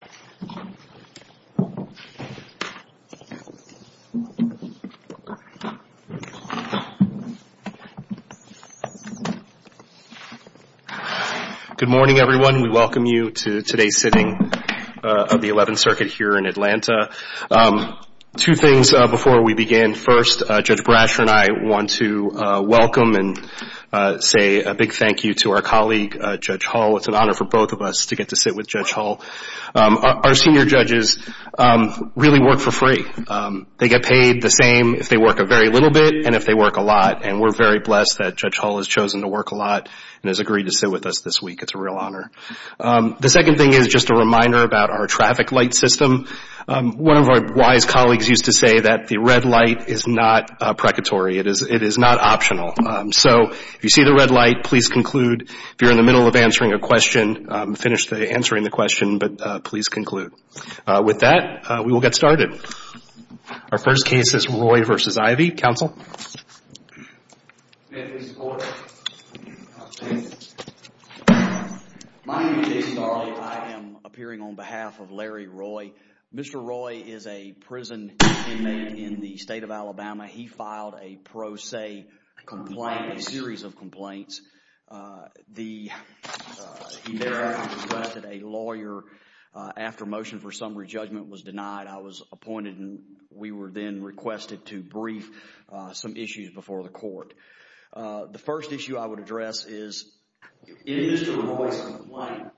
Good morning, everyone. We welcome you to today's sitting of the Eleventh Circuit here in Atlanta. Two things before we begin. First, Judge Bradsher and I want to welcome and say a big thank you to our colleague, Judge Hull. It's an honor for both of us to get to sit with Judge Hull. Our senior judges really work for free. They get paid the same if they work a very little bit and if they work a lot. And we're very blessed that Judge Hull has chosen to work a lot and has agreed to sit with us this week. It's a real honor. The second thing is just a reminder about our traffic light system. One of our wise colleagues used to say that the red light is not precatory. It is not optional. So if you see the red light, please conclude. If you're in the middle of answering a question, finish answering the question, but please conclude. With that, we will get started. Our first case is Roy v. Ivy. Counsel? My name is Jason Darley. I am appearing on behalf of Larry Roy. Mr. Roy is a prison inmate in the United States. He was granted a lawyer after motion for summary judgment was denied. I was appointed and we were then requested to brief some issues before the court. The first issue I would address is, in Mr. Roy's complaint,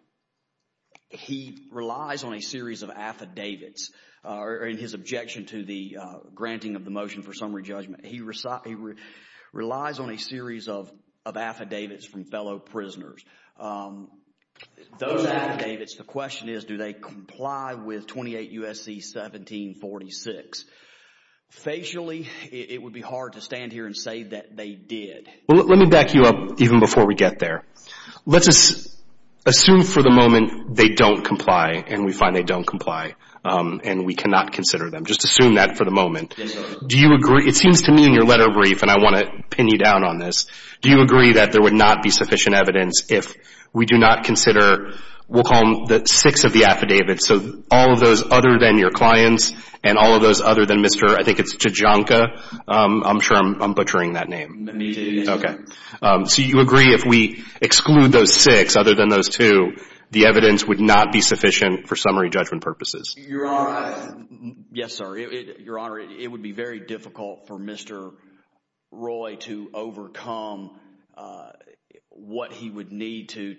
he relies on a series of affidavits in his objection to the granting of the motion for summary judgment. He relies on a series of affidavits. The question is, do they comply with 28 U.S.C. 1746? Facially, it would be hard to stand here and say that they did. Let me back you up even before we get there. Let's assume for the moment they don't comply and we find they don't comply and we cannot consider them. Just assume that for the moment. It seems to me in your letter brief, and I want to pin you down on this, do you agree that there would not be sufficient evidence if we do not consider, we'll call them the six of the affidavits, so all of those other than your clients and all of those other than Mr. I think it's Tijanka. I'm sure I'm butchering that name. Me too. Okay. So you agree if we exclude those six other than those two, the evidence would not be sufficient for summary judgment purposes? Your Honor, yes sir. Your Honor, it would be very difficult for Mr. Roy to overcome what he would need to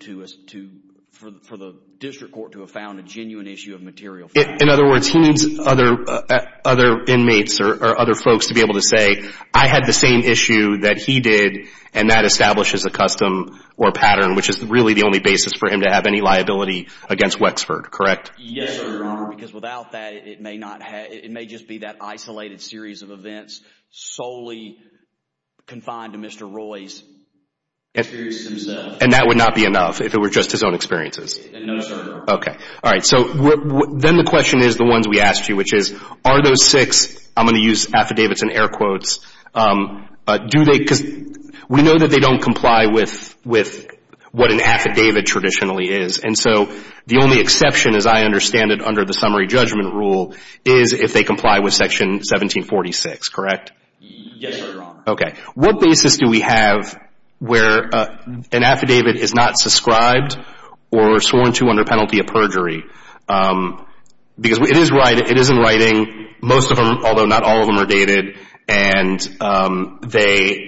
for the district court to have found a genuine issue of material facts. In other words, he needs other inmates or other folks to be able to say, I had the same issue that he did and that establishes a custom or pattern, which is really the only basis for him to have any liability against Wexford, correct? Yes, sir. Your Honor, because without that, it may just be that isolated series of events solely confined to Mr. Roy's experience himself. And that would not be enough if it were just his own experiences? No, sir. Okay. All right. So then the question is the ones we asked you, which is, are those six, I'm going to use affidavits and air quotes, do they, because we know that they don't comply with what an affidavit traditionally is. And so the only exception, as I understand it under the summary judgment rule, is if they comply with section 1746, correct? Yes, sir. Your Honor. Okay. What basis do we have where an affidavit is not subscribed or sworn to under penalty of perjury? Because it is in writing, most of them, although not all of them are dated, and they,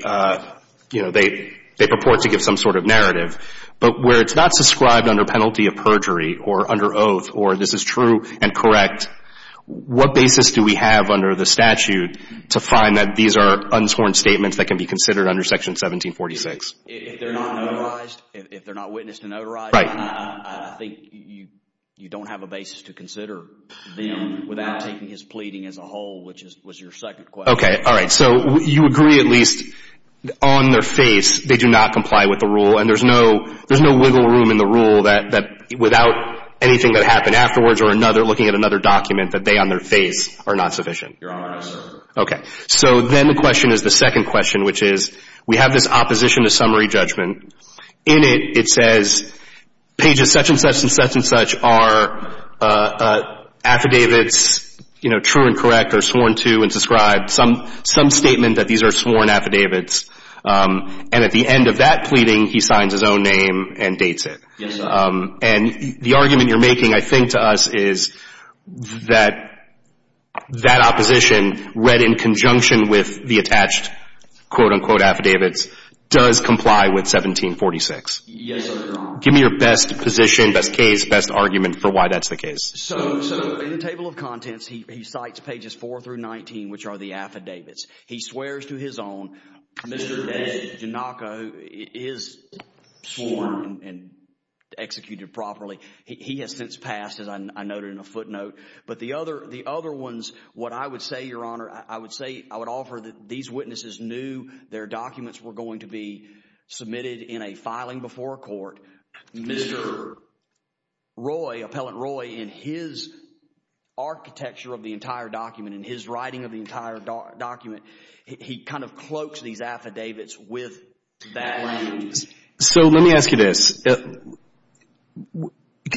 you know, they purport to give some sort of narrative. But where it's not subscribed under penalty of perjury or under oath, or this is true and correct, what basis do we have under the statute to find that these are untorn statements that can be considered under section 1746? If they're not notarized, if they're not witnessed and notarized, I think you don't have a basis to consider them without taking his pleading as a whole, which was your second question. Okay. All right. So you agree at least on their face they do not comply with the rule, and there's no wiggle room in the rule that without anything that happened afterwards or another, looking at another document, that they on their face are not sufficient? Your Honor, no, sir. Okay. So then the question is the second question, which is we have this opposition to summary judgment. In it, it says pages such and such and such and such are affidavits, you know, true and correct or sworn to and subscribed, some statement that these are sworn affidavits, and at the end of that pleading, he signs his own name and dates it. Yes, sir. And the argument you're making, I think, to us is that that opposition read in conjunction with the attached, quote, unquote, affidavits, does comply with 1746. Yes, sir. Give me your best position, best case, best argument for why that's the case. So in the table of contents, he cites pages 4 through 19, which are the affidavits. He swears to his own. Mr. DeGiannaco is sworn and executed properly. He has since passed, as I noted in a footnote. But the other ones, what I would say, Your Honor, I would say I would offer that these witnesses knew their documents were going to be submitted in a way that in his architecture of the entire document, in his writing of the entire document, he kind of cloaks these affidavits with that language. So let me ask you this.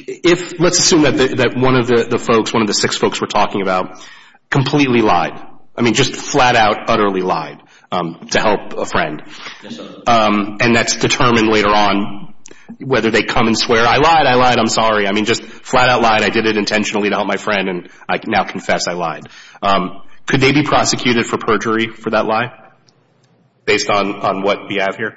If, let's assume that one of the folks, one of the six folks we're talking about, completely lied. I mean, just flat out, utterly lied to help a friend. And that's determined later on whether they come and swear, I lied, I lied, I'm sorry. I mean, just flat out lied, I did it intentionally to help my friend, and I now confess I lied. Could they be prosecuted for perjury for that lie, based on what we have here?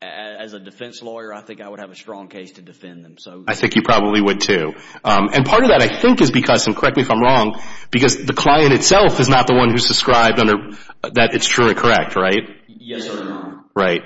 As a defense lawyer, I think I would have a strong case to defend them, so. I think you probably would, too. And part of that, I think, is because, and correct me if I'm wrong, because the client itself is not the one who's described under, that it's truly correct, right? Yes, sir. Right.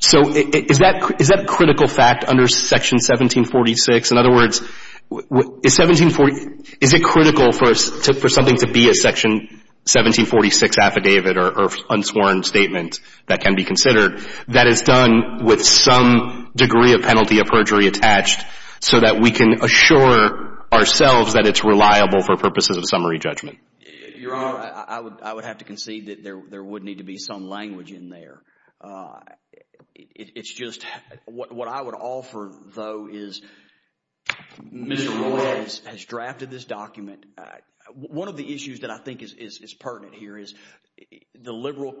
So is that critical fact under Section 1746? In other words, is 1740, is it critical for something to be a Section 1746 affidavit or unsworn statement that can be considered that is done with some degree of penalty of perjury attached, so that we can assure ourselves that it's reliable for purposes of summary judgment? Your Honor, I would have to concede that there would need to be some language in there. It's just, what I would offer, though, is Mr. Moore has drafted this document. One of the issues that I think is pertinent here is the liberal,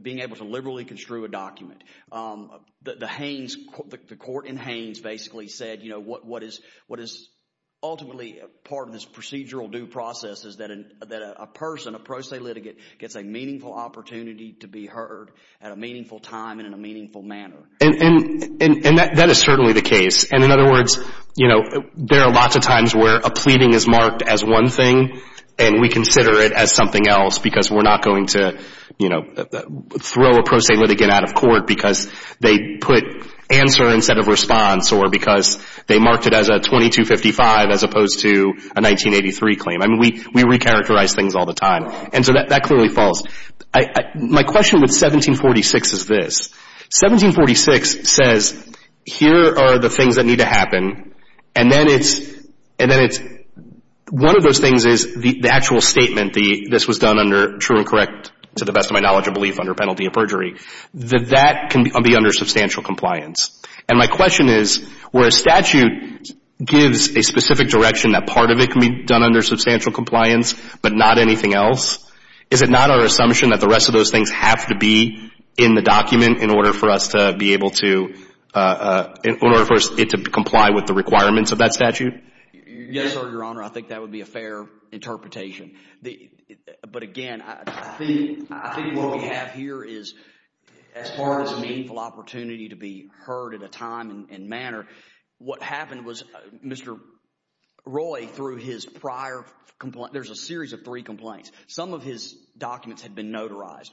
being able to liberally construe a document. The Haines, the court in Haines basically said, you know, what is ultimately part of this procedural due process is that a person, a pro se litigant, gets a meaningful opportunity to be heard at a meaningful time and in a meaningful manner. And that is certainly the case. And in other words, you know, there are lots of times where a pleading is marked as one thing and we consider it as something else because we're not going to, you know, throw a pro se litigant out of court because they put answer instead of 55 as opposed to a 1983 claim. I mean, we recharacterize things all the time. And so that clearly falls. My question with 1746 is this. 1746 says, here are the things that need to happen and then it's, and then it's, one of those things is the actual statement, this was done under true and correct, to the best of my knowledge and belief, under penalty of perjury, that can be under substantial compliance. And my question is, where a statute gives a specific direction that part of it can be done under substantial compliance but not anything else, is it not our assumption that the rest of those things have to be in the document in order for us to be able to, in order for it to comply with the requirements of that statute? Yes, Your Honor, I think that would be a fair interpretation. But again, I think what we have here is, as far as a meaningful opportunity to be heard at a time and manner, what happened was Mr. Roy, through his prior, there's a series of three complaints. Some of his documents had been notarized.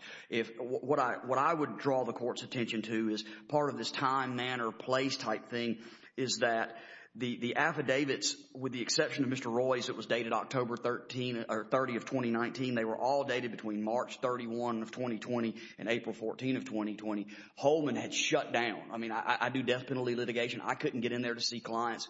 What I would draw the court's attention to is part of this time, manner, place type thing is that the affidavits, with the exception of Mr. Roy's that was dated October 13 or 30 of 2019, they were all dated between March 31 of 2020 and April 14 of 2020. Holman had shut down. I mean, I do death penalty litigation. I couldn't get in there to see clients.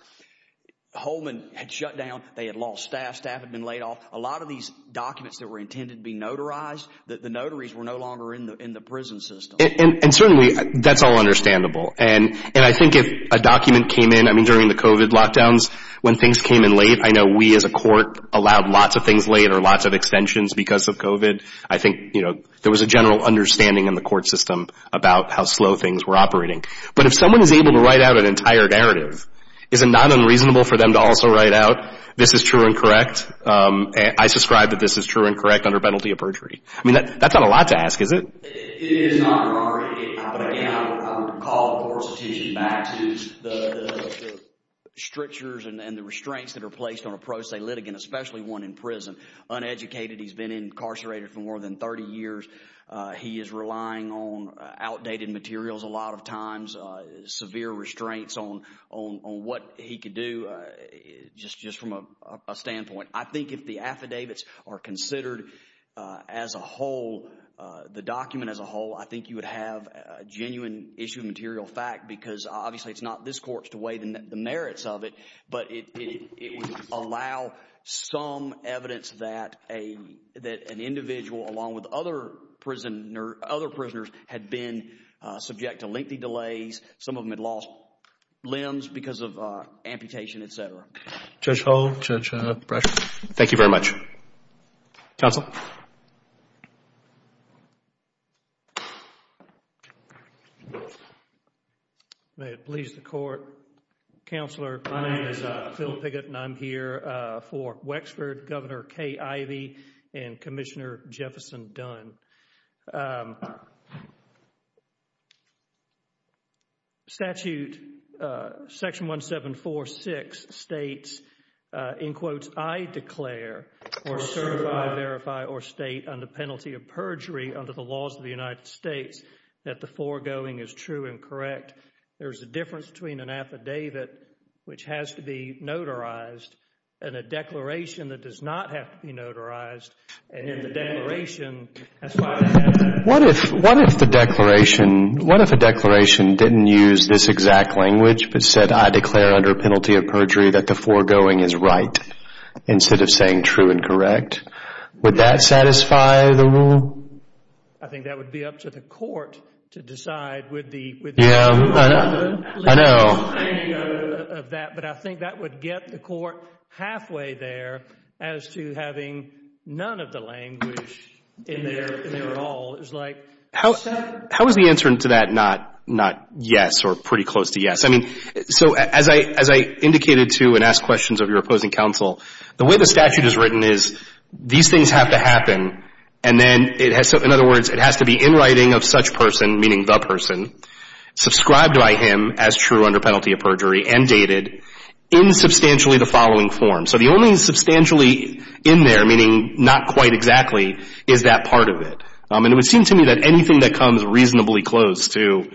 Holman had shut down. They had lost staff. Staff had been laid off. A lot of these documents that were intended to be notarized, the notaries were no longer in the prison system. And certainly, that's all understandable. And I think if a document came in, I mean, during the COVID lockdowns, when things came in late, I know we as a court allowed lots of things late or lots of extensions because of COVID. I think, you know, there was a general understanding in the court system about how slow things were operating. But if someone is able to write out an entire narrative, is it not unreasonable for them to also write out, this is true and correct? I subscribe that this is true and correct under penalty of perjury. I mean, that's not a lot to ask, is it? It is not. But again, I would call the court's attention back to the strictures and the restraints that are placed on a pro se litigant, especially one in prison. Uneducated, he's been incarcerated for more than 30 years. He is relying on outdated materials a lot of times, severe restraints on what he could do just from a standpoint. I think if the affidavits are considered as a whole, the document as a whole, I think you would have a genuine issue of material fact because obviously it's not this court's to weigh the merits of it, but it would allow some evidence that an individual along with other prisoners had been subject to lengthy delays. Some of them had lost limbs because of amputation, et cetera. Judge Hull, Judge Brashaw. Thank you very much. Counsel. May it please the court. Counselor, my name is Phil Piggott and I'm here for Wexford Governor 1746 states, in quotes, I declare or certify, verify or state under penalty of perjury under the laws of the United States that the foregoing is true and correct. There is a difference between an affidavit, which has to be notarized, and a declaration that does not have to be notarized. What if the declaration, what if the declaration didn't use this exact language, but said I declare under penalty of perjury that the foregoing is right, instead of saying true and correct. Would that satisfy the rule? I think that would be up to the court to decide would the rule be true or not true. I know. But I think that would get the court halfway there as to having none of the language in there at all. How is the answer to that not yes or pretty close to yes? I mean, so as I indicated to and asked questions of your opposing counsel, the way the statute is written is these things have to happen and then it has to, in other words, it has to be in writing of such person, meaning the person, subscribed by him as true under penalty of perjury and dated in substantially the following form. So the only substantially in there, meaning not quite exactly, is that part of it. And it would seem to me that anything that comes reasonably close to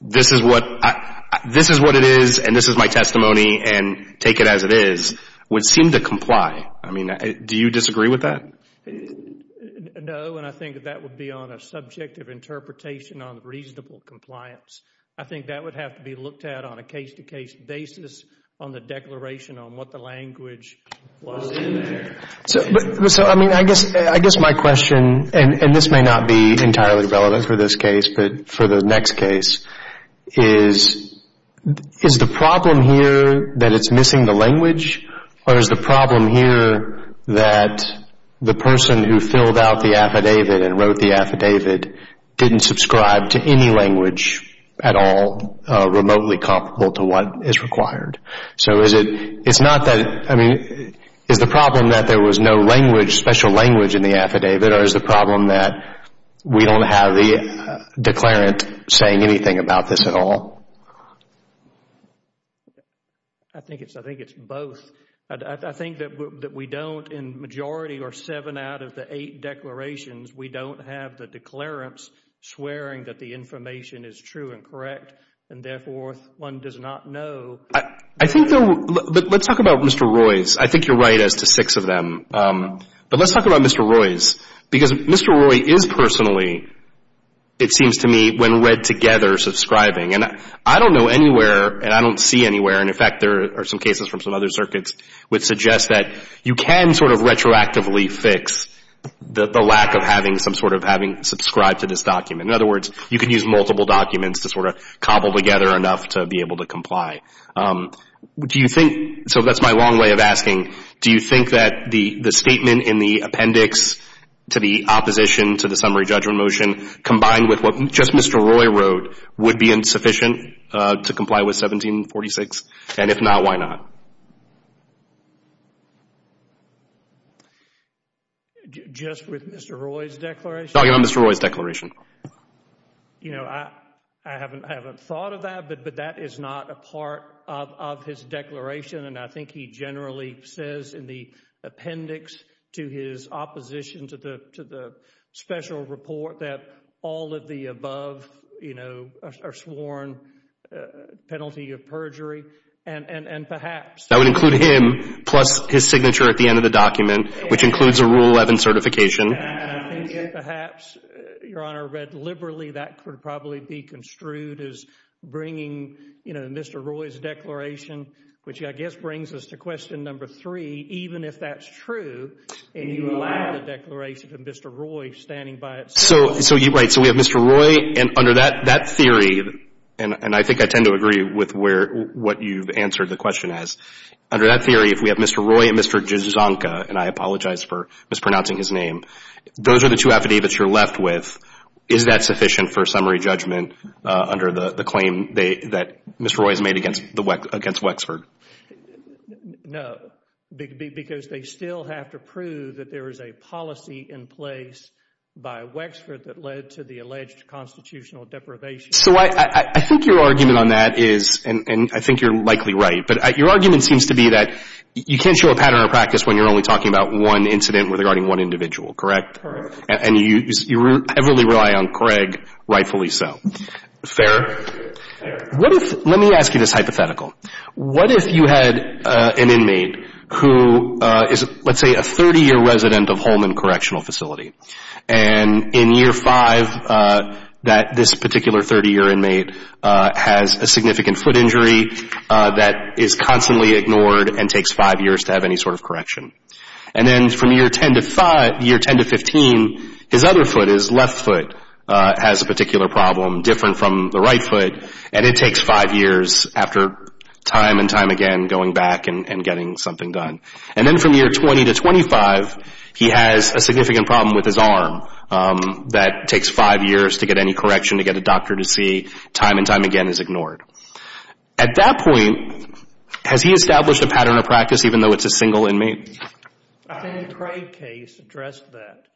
this is what it is and this is my testimony and take it as it is would seem to comply. I mean, do you disagree with that? No, and I think that would be on a subjective interpretation on reasonable compliance. I think that would have to be looked at on a case-to-case basis on the declaration on what the language was in there. So I mean, I guess my question, and this may not be entirely relevant for this case, but for the next case, is the problem here that it's missing the language or is the problem here that the person who filled out the affidavit and wrote the affidavit didn't subscribe to any language at all remotely comparable to what is required? So is it, it's not that, I mean, is the problem that there was no language, special language in the affidavit or is the problem that we don't have the declarant saying anything about this at all? I think it's both. I think that we don't, in majority or seven out of the eight declarations, we don't have the declarants swearing that the information is true and correct and therefore one does not know. I think though, let's talk about Mr. Roy's. I think you're right as to six of them. But let's talk about Mr. Roy's because Mr. Roy is personally, it seems to me, when read together subscribing and I don't know anywhere and I don't see anywhere, and in fact there are some cases from some other circuits which suggest that you can sort of retroactively fix the lack of having some sort of having subscribed to this document. In other words, you can use multiple documents to sort of cobble together enough to be able to comply. Do you think, so that's my long way of asking, do you think that the statement in the appendix to the opposition to the summary judgment motion combined with what just Mr. Roy wrote would be insufficient to comply with 1746? And if not, why not? Just with Mr. Roy's declaration? Talk about Mr. Roy's declaration. You know, I haven't thought of that, but that is not a part of his declaration and I think he generally says in the appendix to his opposition to the special report that all of the above, you know, are sworn penalty of perjury and perhaps. That would include him plus his signature at the end of the document, which includes a Rule 11 certification. And I think perhaps, Your Honor, read liberally that could probably be construed as bringing, you know, Mr. Roy's declaration, which I guess brings us to question number three, even if that's true and you allow the declaration of Mr. Roy standing by itself. So, right, so we have Mr. Roy and under that theory, and I think I tend to agree with what you've answered the question as, under that theory, if we have Mr. Roy and Mr. Dzonka, and I apologize for mispronouncing his name, those are the two affidavits you're left with. Is that sufficient for summary judgment under the claim that Mr. Roy has made against Wexford? No, because they still have to prove that there is a policy in place by Wexford that led to the alleged constitutional deprivation. So I think your argument on that is, and I think you're likely right, but your argument seems to be that you can't show a pattern of practice when you're only talking about one incident regarding one individual, correct? Correct. And you heavily rely on Craig, rightfully so. Fair. What if, let me ask you this hypothetical. What if you had an inmate who is, let's say, a 30-year resident of Holman Correctional Facility, and in year five, that this particular 30-year inmate has a significant foot injury that is constantly ignored and takes five years to have any sort of correction. And then from year 10 to 15, his other foot, his left foot, has a particular problem, different from the right foot, and it takes five years after time and time again going back and getting something done. And then from year 20 to 25, he has a significant problem with his arm that takes five years to get any correction, to get a doctor to see, time and time again is ignored. At that point, has he established a pattern of practice, even though it's a single inmate? I think the Craig case addressed that,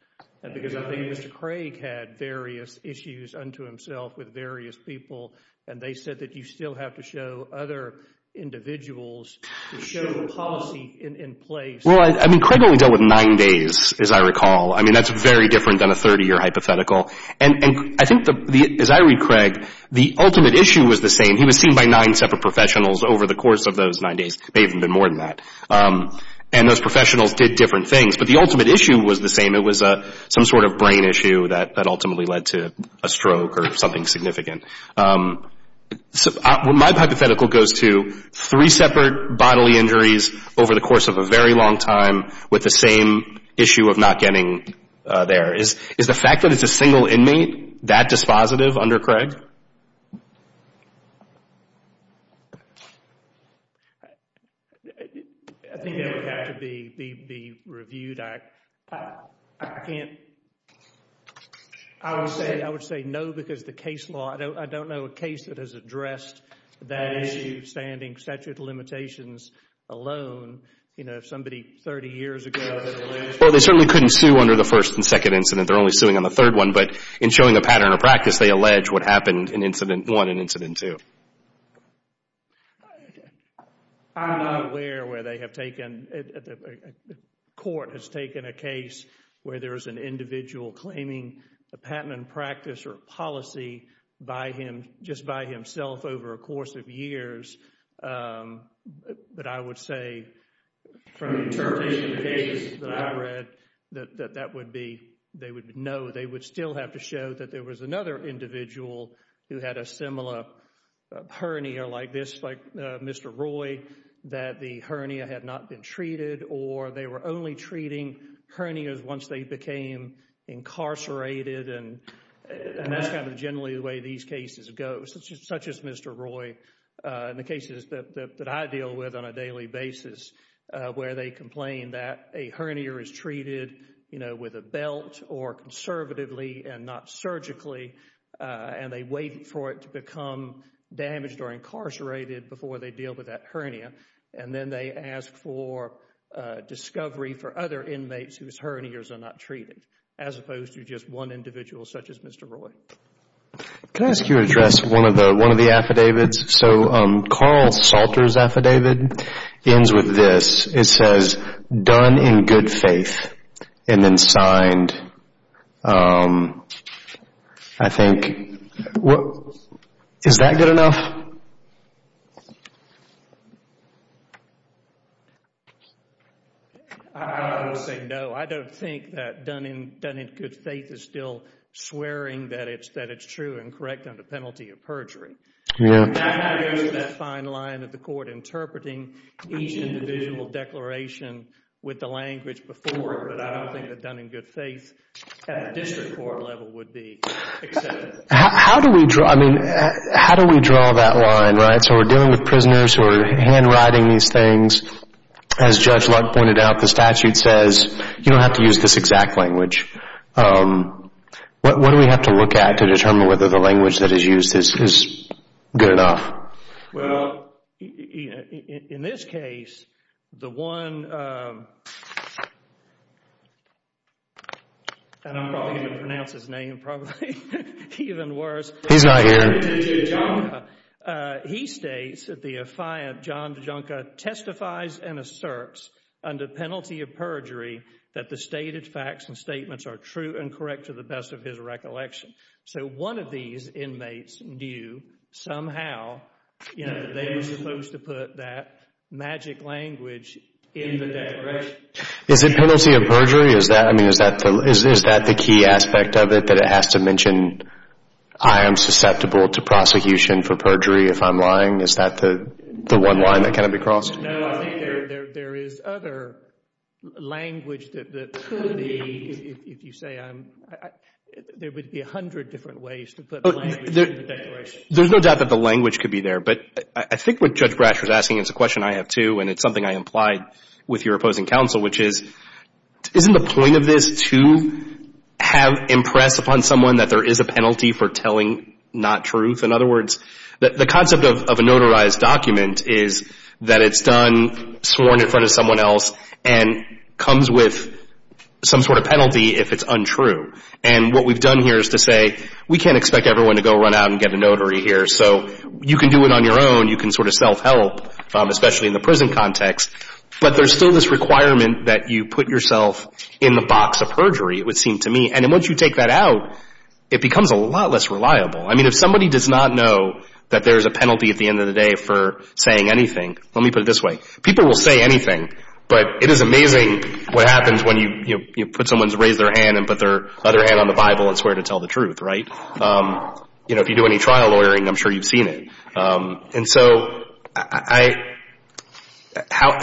because I think Mr. Craig had various issues unto himself with various people, and they said that you still have to show other individuals to show the policy in place. Well, I mean, Craig only dealt with nine days, as I recall. I mean, that's very different than a 30-year hypothetical. And I think, as I read Craig, the ultimate issue was the same. He was seen by nine separate professionals over the course of those nine days. May have been more than that. And those professionals did different things. But the ultimate issue was the same. It was some sort of brain issue that ultimately led to a stroke or something significant. My hypothetical goes to three separate bodily injuries over the course of a very long time, with the same issue of not getting there. Is the fact that it's a single inmate that dispositive under Craig? I think that would have to be reviewed. I would say no, because the case law, I don't know a case that has addressed that issue, standing statute of limitations alone. You know, if somebody 30 years ago had alleged... Well, they certainly couldn't sue under the first and second incident. They're only suing on the third one. But in showing a pattern of practice, they allege what happened in incident one and incident two. I'm not aware where they have taken... Court has taken a case where there is an individual claiming a patent and practice or policy by him, just by himself over a course of years. But I would say from the interpretation of the cases that I've read, that they would know they would still have to show that there was another individual who had a similar hernia like this, like Mr. Roy, that the hernia had not been treated, or they were only treating hernias once they became incarcerated. And that's kind of generally the way these cases go, such as Mr. Roy. In the cases that I deal with on a daily basis, where they complain that a hernia is treated with a belt or conservatively and not surgically, and they wait for it to become damaged or incarcerated before they deal with that hernia. And then they ask for discovery for other inmates whose hernias are not treated, as opposed to just one individual such as Mr. Roy. Can I ask you to address one of the affidavits? So Carl Salter's affidavit ends with this. It says, done in good faith, and then signed, I think. Is that good enough? I would say no. I don't think that done in good faith is still swearing that it's true and correct under penalty of perjury. I have used that fine line of the court interpreting each individual declaration with the language before, but I don't think that done in good faith at the district court level would be accepted. How do we draw that line, right? So we're dealing with prisoners who are handwriting these things. As Judge Lutt pointed out, the statute says you don't have to use this exact language. What do we have to look at to determine whether the language that is used is good enough? Well, in this case, the one, and I'm probably going to pronounce his name probably even worse. He states that the affiant John DeJonca testifies and asserts under penalty of perjury that the stated facts and statements are true and correct to the best of his recollection. So one of these inmates knew somehow, you know, that they were supposed to put that magic language in the declaration. Is it penalty of perjury? Is that, I mean, is that the key aspect of it that it has to mention I am susceptible to prosecution for perjury if I'm lying? Is that the one line that cannot be crossed? No, I think there is other language that could be, if you say, I, there would be a hundred different ways to put the language in the declaration. There's no doubt that the language could be there, but I think what Judge Brash was asking is a question I have too, and it's something I implied with your opposing counsel, which is, isn't the point of this to have impress upon someone that there is a penalty for telling not truth? In other words, the concept of a notarized document is that it's done sworn in front of And what we've done here is to say, we can't expect everyone to go run out and get a notary here. So you can do it on your own. You can sort of self-help, especially in the prison context. But there's still this requirement that you put yourself in the box of perjury, it would seem to me. And then once you take that out, it becomes a lot less reliable. I mean, if somebody does not know that there's a penalty at the end of the day for saying anything, let me put it this way. People will say anything, but it is amazing what happens when you, you know, put someone's, raise their hand and put their other hand on the Bible and swear to tell the truth, right? You know, if you do any trial lawyering, I'm sure you've seen it. And so I, how,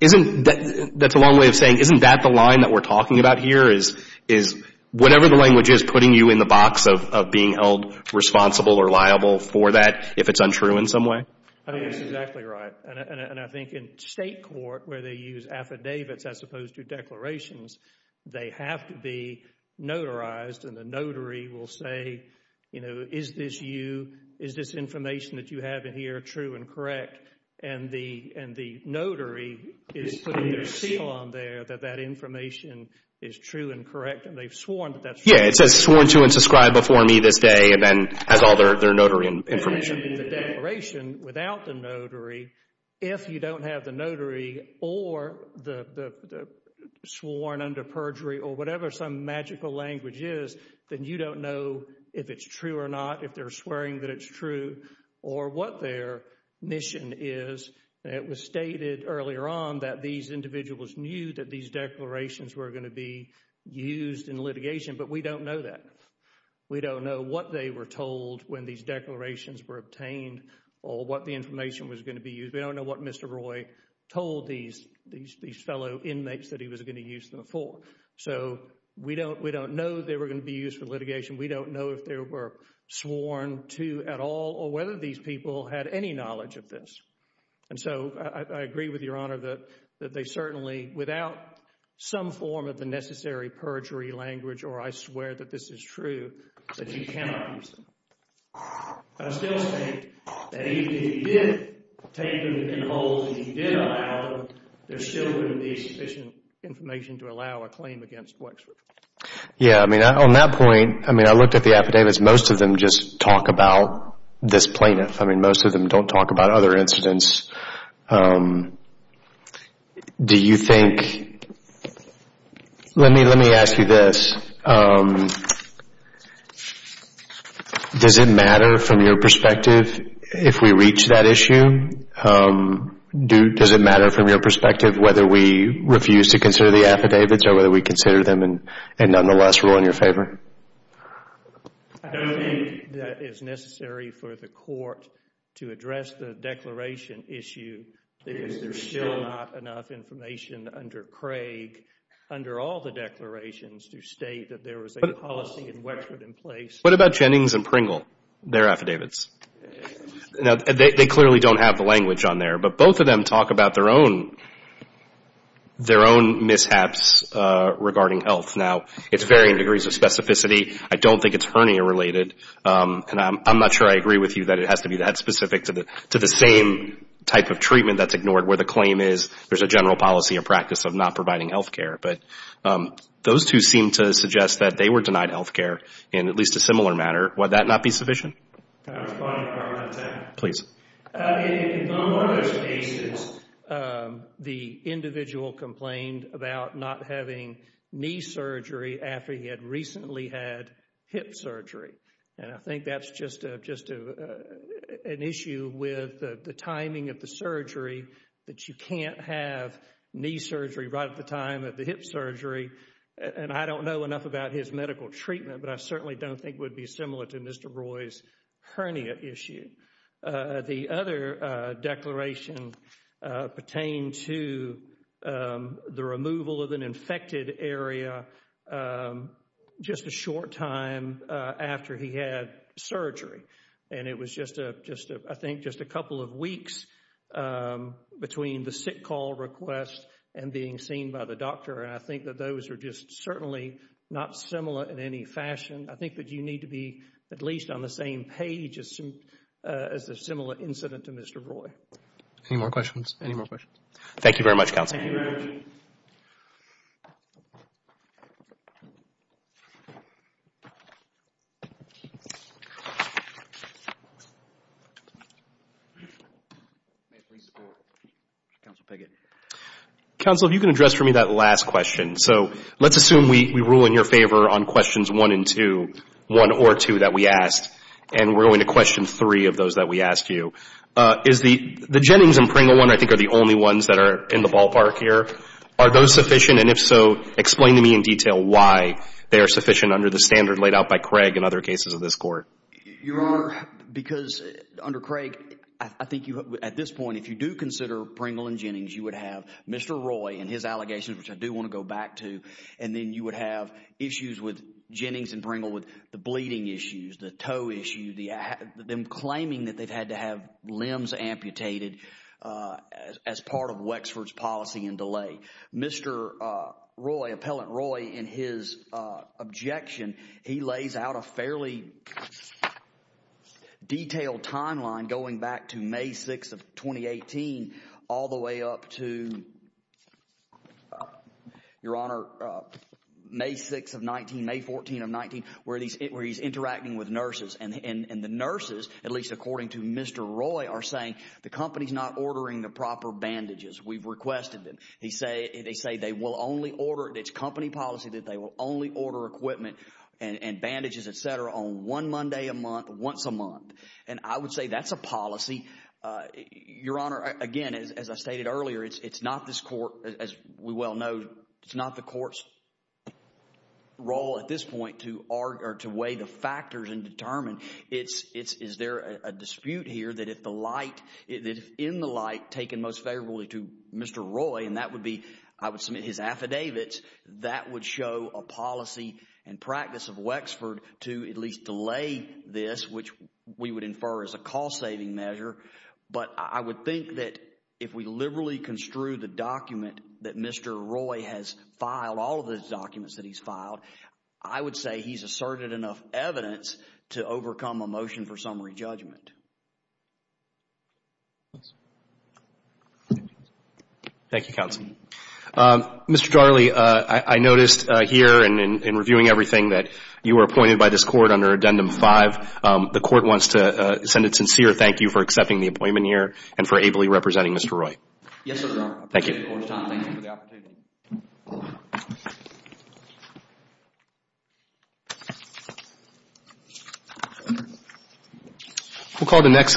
isn't that, that's a long way of saying, isn't that the line that we're talking about here is, is whatever the language is putting you in the box of being held responsible or liable for that, if it's untrue in some way? I think that's exactly right. And I think in state court, where they use affidavits as opposed to declarations, they have to be notarized. And the notary will say, you know, is this you, is this information that you have in here true and correct? And the, and the notary is putting their seal on there that that information is true and correct. And they've sworn that that's true. Yeah, it says sworn to and subscribe before me this day and then has all their notary information. The declaration without the notary, if you don't have the notary or the, the sworn under perjury or whatever some magical language is, then you don't know if it's true or not, if they're swearing that it's true or what their mission is. It was stated earlier on that these individuals knew that these declarations were going to be used in litigation, but we don't know that. We don't know what they were told when these declarations were obtained or what the information was going to be used. We don't know what Mr. Roy told these, these, these fellow inmates that he was going to use them for. So we don't, we don't know they were going to be used for litigation. We don't know if there were sworn to at all or whether these people had any knowledge of this. And so I agree with your honor that, that they certainly, without some form of the truth, that you cannot use them. I still think that even if you did take them and hold and you did allow them, there's still going to be sufficient information to allow a claim against Wexford. Yeah, I mean, on that point, I mean, I looked at the affidavits. Most of them just talk about this plaintiff. I mean, most of them don't talk about other incidents. Do you think, let me, let me ask you this. Does it matter from your perspective if we reach that issue? Do, does it matter from your perspective whether we refuse to consider the affidavits or whether we consider them and, and nonetheless rule in your favor? I don't think that is necessary for the court to address the declaration issue because there's still not enough information under Craig, under all the declarations to state that there is a policy in Wexford in place. What about Jennings and Pringle, their affidavits? Now, they clearly don't have the language on there, but both of them talk about their own, their own mishaps regarding health. Now, it's varying degrees of specificity. I don't think it's hernia related and I'm not sure I agree with you that it has to be that specific to the, to the same type of treatment that's ignored where the claim is there's a general policy and practice of not providing health care. But, those two seem to suggest that they were denied health care in at least a similar matter. Would that not be sufficient? Can I respond to part of that? Please. In one of those cases, the individual complained about not having knee surgery after he had recently had hip surgery. And I think that's just a, just a, an issue with the timing of the surgery that you can't have knee surgery right at the time of the hip surgery. And I don't know enough about his medical treatment, but I certainly don't think would be similar to Mr. Roy's hernia issue. The other declaration pertained to the removal of an infected area just a short time after he had surgery. And it was just a, just a, I think just a couple of weeks between the sick call request and being seen by the doctor. And I think that those are just certainly not similar in any fashion. I think that you need to be at least on the same page as, as a similar incident to Mr. Roy. Any more questions? Any more questions? Thank you very much, Counsel. Thank you very much. Counsel, if you can address for me that last question. So let's assume we, we rule in your favor on questions one and two, one or two that we asked. And we're going to question three of those that we asked you. Is the, the Jennings and Pringle one, I think are the only ones that are in the ballpark here. Are those sufficient? And if so, explain to me in detail why they are sufficient under the standard laid out by Craig and other cases of this court. Your Honor, because under Craig, I think you, at this point, if you do consider Pringle and Jennings, you would have Mr. Roy and his allegations, which I do want to go back to. And then you would have issues with Jennings and Pringle with the bleeding issues, the toe issue, the, them claiming that they've had to have limbs amputated as part of Wexford's policy and delay. Mr. Roy, Appellant Roy, in his objection, he lays out a fairly detailed timeline going back to May 6th of 2018, all the way up to, Your Honor, May 6th of 19, May 14th of 19, where he's, where he's interacting with nurses. And, and the nurses, at least according to Mr. Roy, are saying the company's not ordering the proper bandages. We've requested them. He say, they say they will only order, it's company policy that they will only order equipment and bandages, et cetera, on one Monday a month, once a month. And I would say that's a policy. Your Honor, again, as I stated earlier, it's, it's not this court, as we well know, it's not the court's role at this point to argue or to weigh the factors and determine it's, it's, is there a dispute here that if the light, if in the light taken most favorably to Mr. Roy, and that would be, I would submit his affidavits, that would show a policy and practice of Wexford to at least delay this, which we would infer as a cost-saving measure. But I would think that if we liberally construe the document that Mr. Roy has filed, all of the documents that he's filed, I would say he's asserted enough evidence to overcome a motion for summary judgment. Thank you, counsel. Mr. Darley, I, I noticed here in, in reviewing everything that you were appointed by this court under Addendum 5, the court wants to send a sincere thank you for accepting the appointment here and for ably representing Mr. Roy. Yes, Your Honor. Thank you. Thank you for the opportunity. We'll call the next.